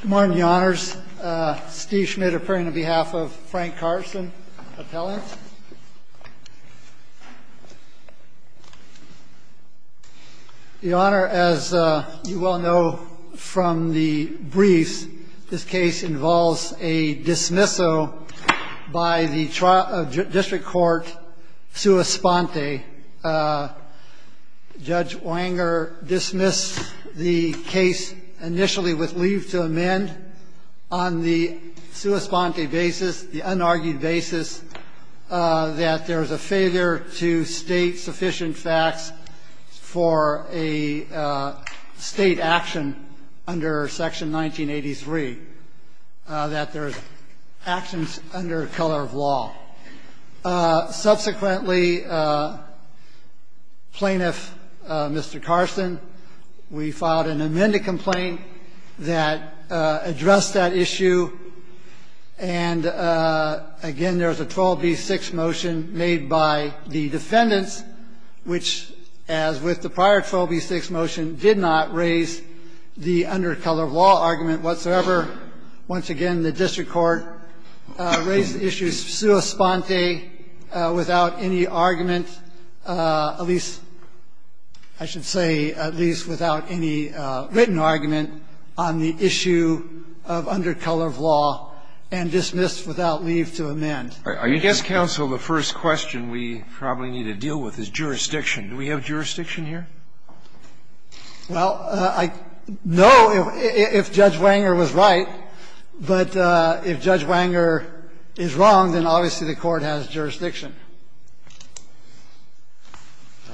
Good morning, Your Honors. Steve Schmidt appearing on behalf of Frank Carson, appellant. Your Honor, as you well know from the briefs, this case involves a dismissal by the district court sua sponte. Judge Wanger dismissed the case initially with leave to amend on the sua sponte basis, the unargued basis that there is a failure to state sufficient facts for a State action under Section 1983, that there's actions under color of law. Subsequently, Plaintiff Mr. Carson, we filed an amended complaint that addressed that issue. And again, there's a 12b-6 motion made by the defendants, which, as with the prior 12b-6 motion, did not raise the under color of law argument whatsoever. Once again, the district court raised the issue sua sponte without any argument, at least, I should say, at least without any written argument, on the issue of under color of law and dismissed without leave to amend. Are you guessing, counsel, the first question we probably need to deal with is jurisdiction. Do we have jurisdiction here? Well, I know if Judge Wanger was right, but if Judge Wanger is wrong, then obviously the Court has jurisdiction.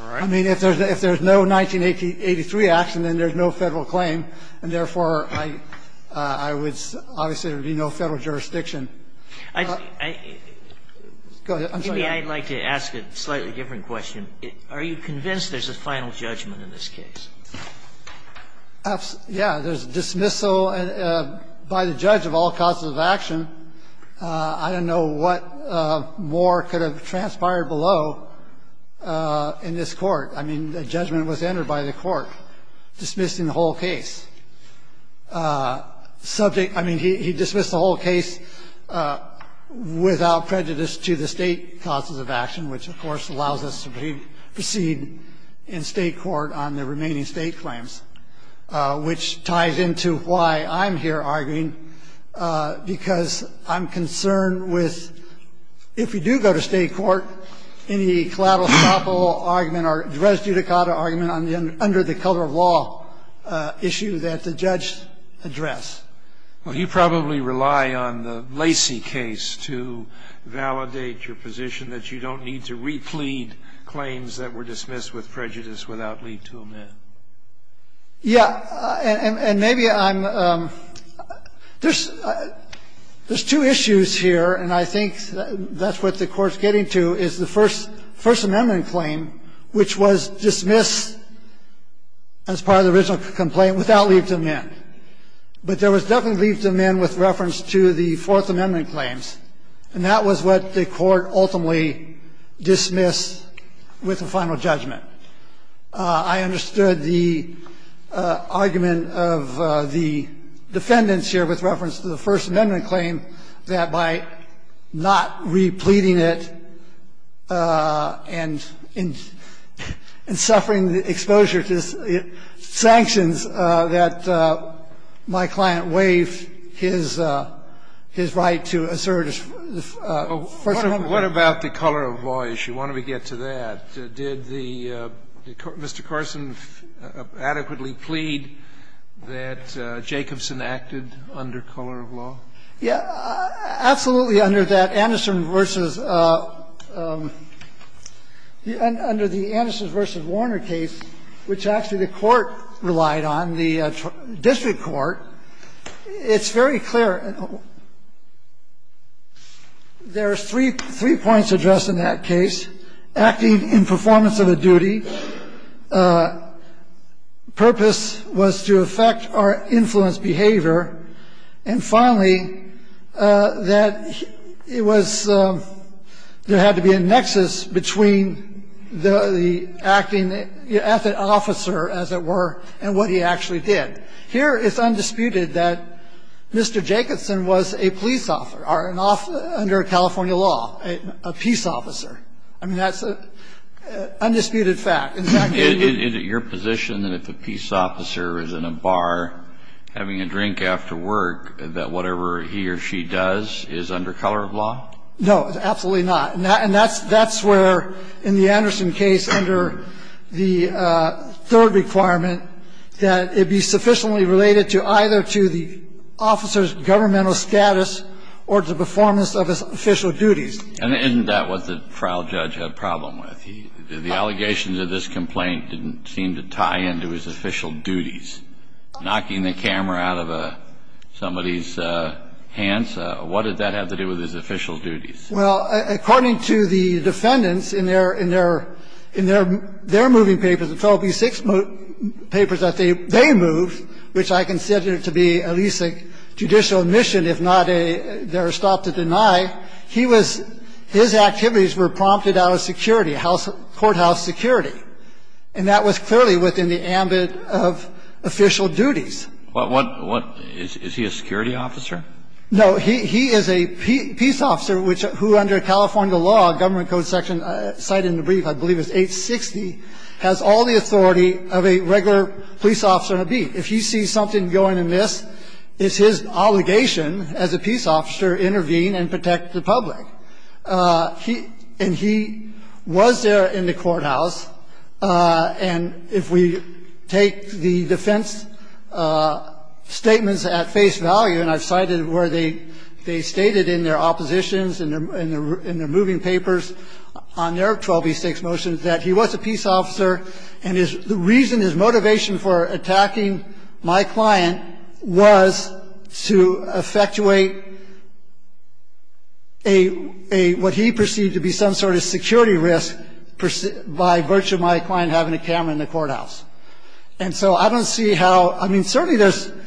All right. I mean, if there's no 1983 action, then there's no Federal claim, and therefore I would say there would be no Federal jurisdiction. I'd like to ask a slightly different question. Are you convinced there's a final judgment in this case? Yeah. There's dismissal by the judge of all causes of action. I don't know what more could have transpired below in this Court. I mean, a judgment was entered by the Court dismissing the whole case. Subject – I mean, he dismissed the whole case without prejudice to the State causes of action, which, of course, allows us to proceed in State court on the remaining State claims, which ties into why I'm here arguing, because I'm concerned with, if you do go to State court, any collateral-stoppable argument or res judicata argument under the color of law issue that the judge addressed. Well, you probably rely on the Lacey case to validate your position that you don't need to replete claims that were dismissed with prejudice without leave to amend. Yeah. And maybe I'm – there's two issues here, and I think that's what the Court's getting to, is the First Amendment claim, which was dismissed as part of the original complaint without leave to amend. But there was definitely leave to amend with reference to the Fourth Amendment claims, and that was what the Court ultimately dismissed with the final judgment. I understood the argument of the defendants here with reference to the First Amendment claim that by not repleting it and suffering the exposure to sanctions, that my client waived his right to assert his First Amendment right. What about the color of law issue? Why don't we get to that? Did the – did Mr. Carson adequately plead that Jacobson acted under color of law? Yeah, absolutely, under that Anderson v. – under the Anderson v. Warner case, which actually the Court relied on, the district court, it's very clear. There's three points addressed in that case, acting in performance of a duty, purpose was to affect or influence behavior, and finally, that it was – there had to be a nexus between the acting – the officer, as it were, and what he actually did. Here, it's undisputed that Mr. Jacobson was a police officer or an – under California law, a peace officer. I mean, that's an undisputed fact. In fact, he was a police officer. Is it your position that if a peace officer is in a bar having a drink after work, that whatever he or she does is under color of law? No, absolutely not. And that's where, in the Anderson case, under the third requirement, that it be sufficient And that's what the trial judge had a problem with, that it was sufficiently related to either to the officer's governmental status or to the performance of his official duties. And isn't that what the trial judge had a problem with? The allegations of this complaint didn't seem to tie into his official duties. Knocking the camera out of somebody's hands, what did that have to do with his official duties? Well, according to the defendants in their – in their – in their moving papers, the 12B6 papers that they moved, which I consider to be at least a judicial admission, if not their stop to deny, he was – his activities were prompted out of security, courthouse security. And that was clearly within the ambit of official duties. What – what – is he a security officer? No. He is a peace officer, which – who under California law, government code section cited in the brief, I believe it's 860, has all the authority of a regular police officer in a beat. If he sees something going amiss, it's his obligation as a peace officer to intervene and protect the public. He – and he was there in the courthouse, and if we take the defense statements at face value, and I've cited where they – they stated in their oppositions and in their – in their moving papers on their 12B6 motions that he was a peace officer and his – the reason, his motivation for attacking my client was to effectuate a – a – what he perceived to be some sort of security risk by virtue of my client having a camera in the courthouse. And so I don't see how – I mean, certainly there's –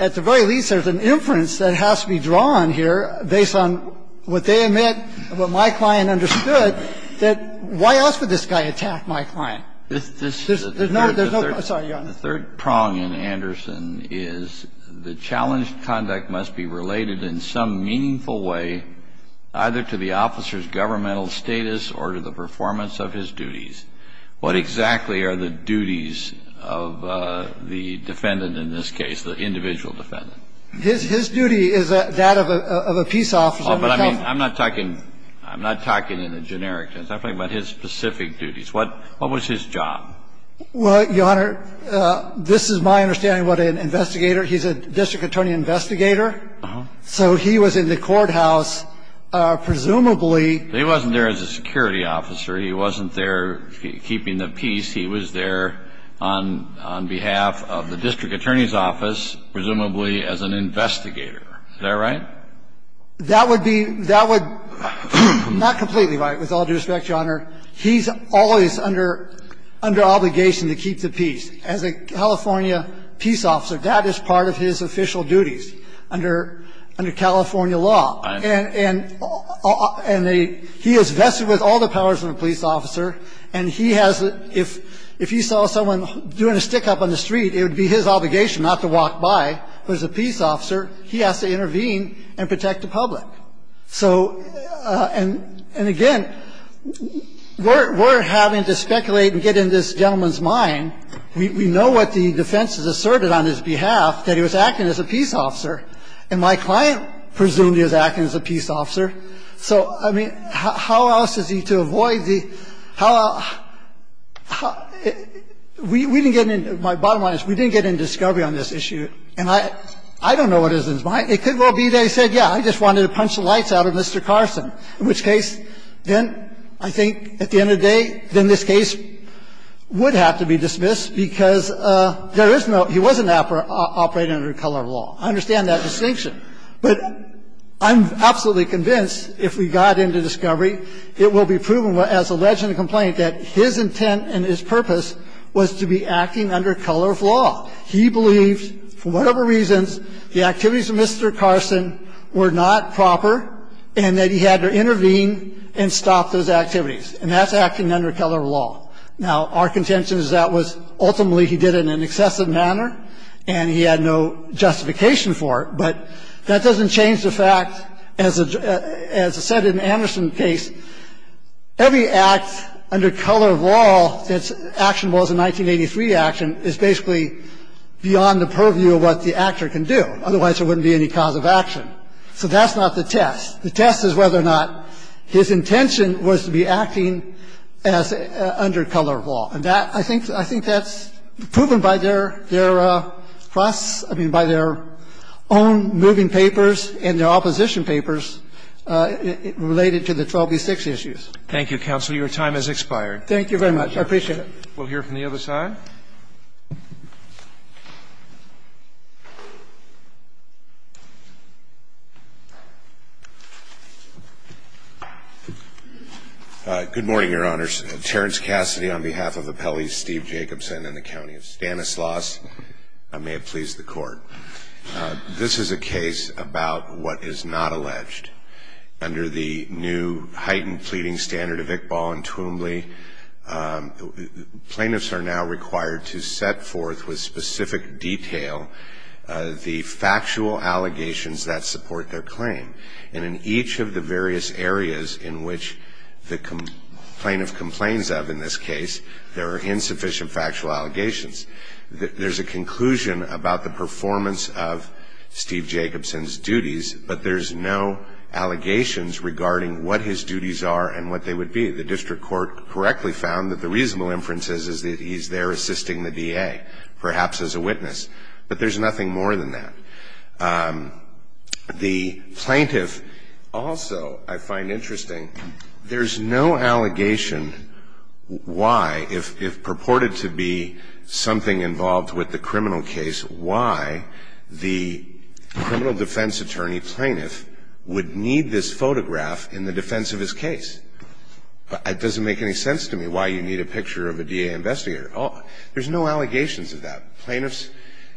at the very least, there's an inference that has to be drawn here based on what they admit and what my client understood, that why else would this guy attack my client? There's no – there's no – I'm sorry, Your Honor. The third prong in Anderson is the challenged conduct must be related in some meaningful way either to the officer's governmental status or to the performance of his duties. What exactly are the duties of the defendant in this case, the individual defendant? His – his duty is that of a – of a peace officer. Oh, but I mean, I'm not talking – I'm not talking in a generic sense. I'm talking about his specific duties. What – what was his job? Well, Your Honor, this is my understanding of what an investigator – he's a district attorney investigator, so he was in the courthouse presumably – But he wasn't there as a security officer. He wasn't there keeping the peace. He was there on – on behalf of the district attorney's office, presumably as an investigator. Is that right? That would be – that would – not completely right, with all due respect, Your Honor. He's always under – under obligation to keep the peace. As a California peace officer, that is part of his official duties under – under California law. And – and the – he is vested with all the powers of a police officer, and he has – if – if he saw someone doing a stick-up on the street, it would be his obligation not to walk by. But as a peace officer, he has to intervene and protect the public. So – and – and again, we're – we're having to speculate and get in this gentleman's mind. We – we know what the defense has asserted on his behalf, that he was acting as a peace officer. And my client presumably is acting as a peace officer. So, I mean, how else is he to avoid the – how – how – we didn't get in – my bottom line is we didn't get in discovery on this issue. And I – I don't know what is in his mind. It could well be that he said, yeah, I just wanted to punch the lights out of Mr. Carson. In which case, then I think at the end of the day, then this case would have to be dismissed because there is no – he wasn't operating under color of law. I understand that distinction. But I'm absolutely convinced if we got into discovery, it will be proven as alleged in the complaint that his intent and his purpose was to be acting under color of law. He believed, for whatever reasons, the activities of Mr. Carson were not proper and that he had to intervene and stop those activities. And that's acting under color of law. Now, our contention is that was – ultimately, he did it in an excessive manner and he had no justification for it. But that doesn't change the fact, as – as I said in Anderson's case, that Mr. Carson's intention was to be acting under color of law, and I think that's proven by their – their process, I mean, by their own moving papers and their opposition papers related to the 12b6 case. Thank you, counsel. Your time has expired. Thank you very much. I appreciate it. We'll hear from the other side. Good morning, Your Honors. Terrence Cassidy on behalf of Appellees Steve Jacobson and the County of Stanislaus. May it please the Court. This is a case about what is not alleged. Under the new heightened pleading standard of Iqbal and Twombly, plaintiffs are now required to set forth with specific detail the factual allegations that support their claim. And in each of the various areas in which the plaintiff complains of in this case, there are insufficient factual allegations. There's a conclusion about the performance of Steve Jacobson's duties, but there's no allegations regarding what his duties are and what they would be. The district court correctly found that the reasonable inference is that he's there assisting the DA, perhaps as a witness. But there's nothing more than that. The plaintiff also, I find interesting, there's no allegation why, if purported to be something involved with the criminal case, why the criminal defense attorney plaintiff would need this photograph in the defense of his case. It doesn't make any sense to me why you need a picture of a DA investigator. There's no allegations of that. Plaintiffs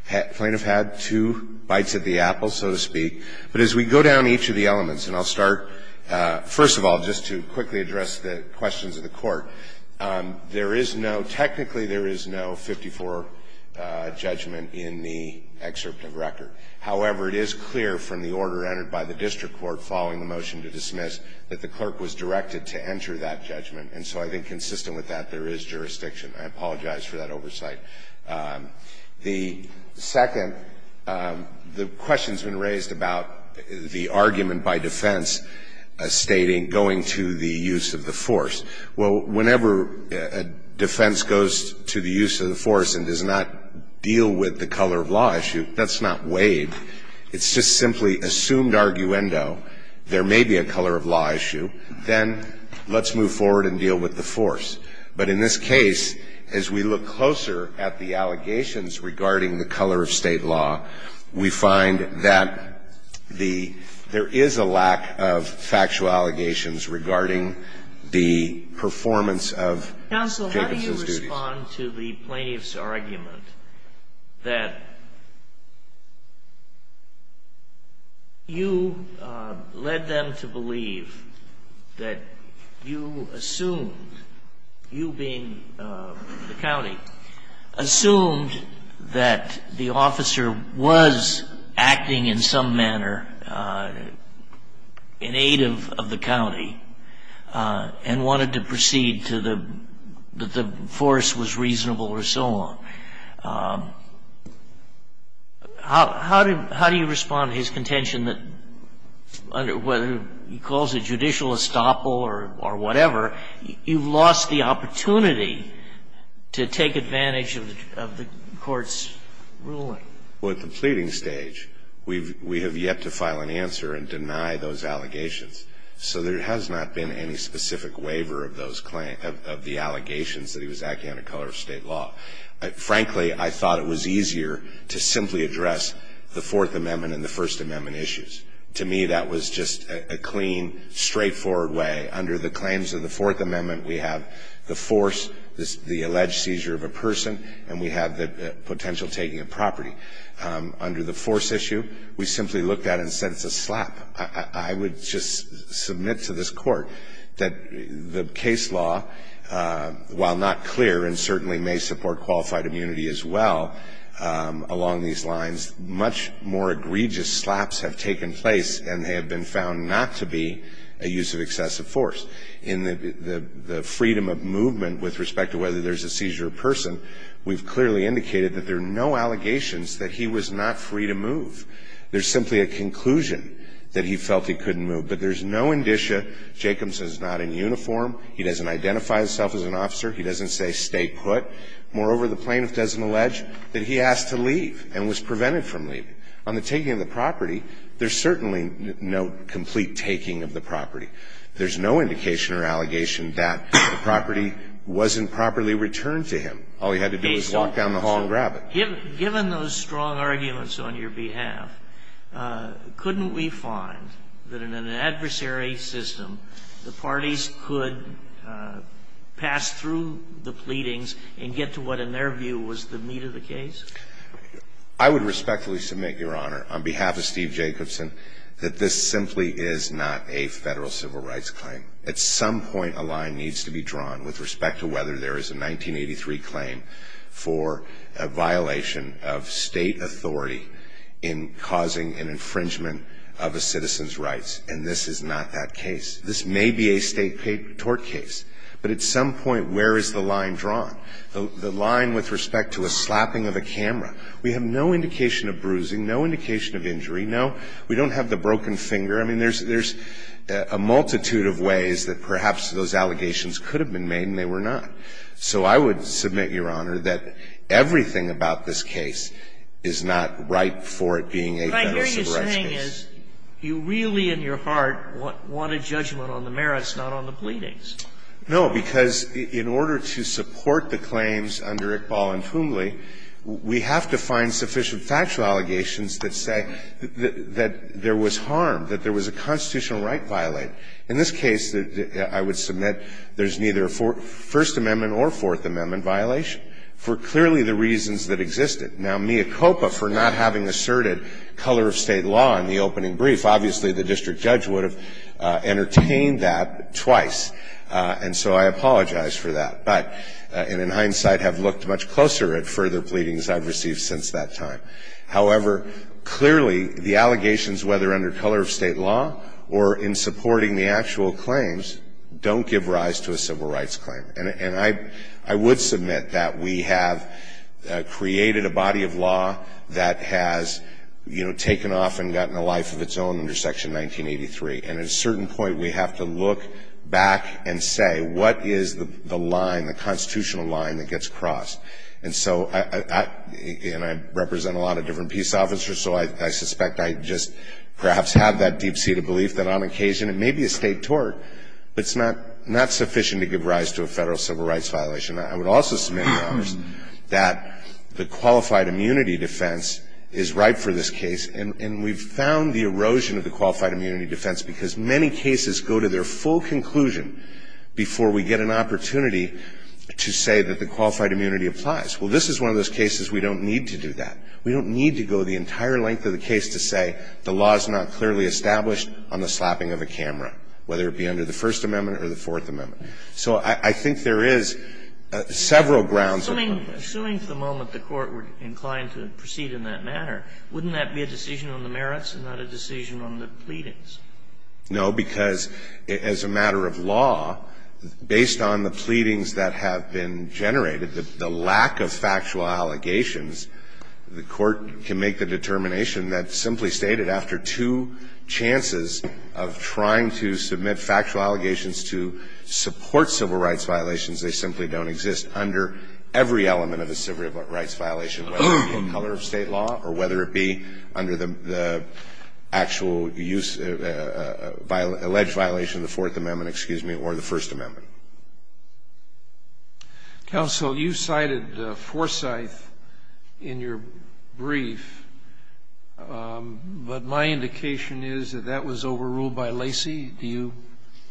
had two bites of the apple, so to speak. But as we go down each of the elements, and I'll start, first of all, just to quickly address the questions of the Court. There is no, technically there is no 54 judgment in the excerpt of record. However, it is clear from the order entered by the district court following the motion to dismiss that the clerk was directed to enter that judgment. And so I think consistent with that, there is jurisdiction. I apologize for that oversight. The second, the question's been raised about the argument by defense stating going to the use of the force. Well, whenever a defense goes to the use of the force and does not deal with the color of law issue, that's not waived. It's just simply assumed arguendo. There may be a color of law issue, then let's move forward and deal with the force. But in this case, as we look closer at the allegations regarding the color of state law, we find that there is a lack of factual allegations regarding the performance of Jacobson's duties. Counsel, how do you respond to the plaintiff's argument that you led them to believe that you assumed, you being the county, assumed that the officer was acting in some manner in aid of the county and wanted to proceed to the, that the force was reasonable or so on. How do you respond to his contention that whether he calls it judicial estoppel or whatever, you've lost the opportunity to take advantage of the court's ruling? Well, at the pleading stage, we have yet to file an answer and deny those allegations. So there has not been any specific waiver of the allegations that he was acting under color of state law. Frankly, I thought it was easier to simply address the Fourth Amendment and the First Amendment issues. To me, that was just a clean, straightforward way. Under the claims of the Fourth Amendment, we have the force, the alleged seizure of a person, and we have the potential taking of property. Under the force issue, we simply looked at it and said, it's a slap. I would just submit to this court that the case law, while not clear and certainly may support qualified immunity as well along these lines, much more egregious slaps have taken place and they have been found not to be a use of excessive force. In the freedom of movement with respect to whether there's a seizure of a person, we've clearly indicated that there are no allegations that he was not free to move. There's simply a conclusion that he felt he couldn't move, but there's no indicia. Jacobson is not in uniform. He doesn't identify himself as an officer. He doesn't say, stay put. Moreover, the plaintiff doesn't allege that he asked to leave and was prevented from leaving. On the taking of the property, there's certainly no complete taking of the property. There's no indication or allegation that the property wasn't properly returned to him. All he had to do was walk down the hall and grab it. Given those strong arguments on your behalf, couldn't we find that in an adversary system, the parties could pass through the pleadings and get to what in their view was the meat of the case? I would respectfully submit, Your Honor, on behalf of Steve Jacobson, that this simply is not a federal civil rights claim. At some point, a line needs to be drawn with respect to whether there is a 1983 claim for a violation of state authority in causing an infringement of a citizen's rights. And this is not that case. This may be a state tort case. But at some point, where is the line drawn? The line with respect to a slapping of a camera. We have no indication of bruising, no indication of injury. No, we don't have the broken finger. I mean, there's a multitude of ways that perhaps those allegations could have been made and they were not. So I would submit, Your Honor, that everything about this case is not ripe for it being a federal civil rights case. What I hear you saying is you really in your heart want a judgment on the merits, not on the pleadings. No, because in order to support the claims under Iqbal and Toomley, we have to find sufficient factual allegations that say that there was harm, that there was a constitutional right violated. In this case, I would submit there's neither First Amendment or Fourth Amendment violation for clearly the reasons that existed. Now, mea culpa for not having asserted color of state law in the opening brief. Obviously, the district judge would have entertained that twice. And so I apologize for that. But in hindsight, I've looked much closer at further pleadings I've received since that time. However, clearly, the allegations, whether under color of state law or in supporting the actual claims, don't give rise to a civil rights claim. And I would submit that we have created a body of law that has, you know, taken off and gotten a life of its own under Section 1983. And at a certain point, we have to look back and say, what is the line, the constitutional line that gets crossed? And so, and I represent a lot of different peace officers, so I suspect I just perhaps have that deep-seated belief that on occasion, it may be a state tort, but it's not sufficient to give rise to a federal civil rights violation. I would also submit, Your Honors, that the qualified immunity defense is ripe for this case. And we've found the erosion of the qualified immunity defense because many cases go to their full conclusion before we get an opportunity to say that the qualified immunity applies. Well, this is one of those cases we don't need to do that. We don't need to go the entire length of the case to say the law is not clearly established on the slapping of a camera, whether it be under the First Amendment or the Fourth Amendment. So I think there is several grounds. Kennedy. Assuming for the moment the Court were inclined to proceed in that manner, wouldn't that be a decision on the merits and not a decision on the pleadings? No, because as a matter of law, based on the pleadings that have been generated, the lack of factual allegations, the Court can make the determination that, simply stated, after two chances of trying to submit factual allegations to support civil rights violations, they simply don't exist under every element of a civil right, whether it be an alleged violation of the Fourth Amendment or the First Amendment. Counsel, you cited Forsyth in your brief, but my indication is that that was overruled by Lacey. Do you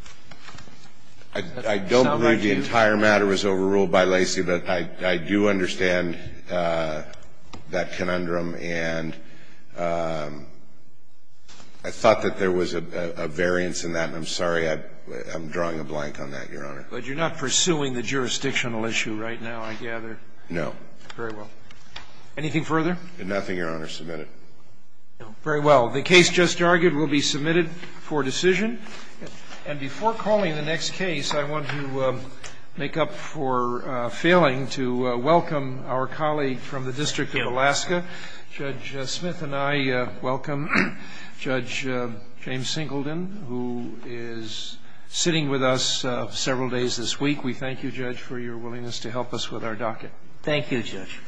sound like you? I don't believe the entire matter was overruled by Lacey, but I do understand that conundrum. And I thought that there was a variance in that, and I'm sorry I'm drawing a blank on that, Your Honor. But you're not pursuing the jurisdictional issue right now, I gather? No. Very well. Anything further? Nothing, Your Honor. Submit it. Very well. The case just argued will be submitted for decision. And before calling the next case, I want to make up for failing to welcome our colleague from the District of Alaska. Judge Smith and I welcome Judge James Singleton, who is sitting with us several days this week. We thank you, Judge, for your willingness to help us with our docket. Thank you, Judge.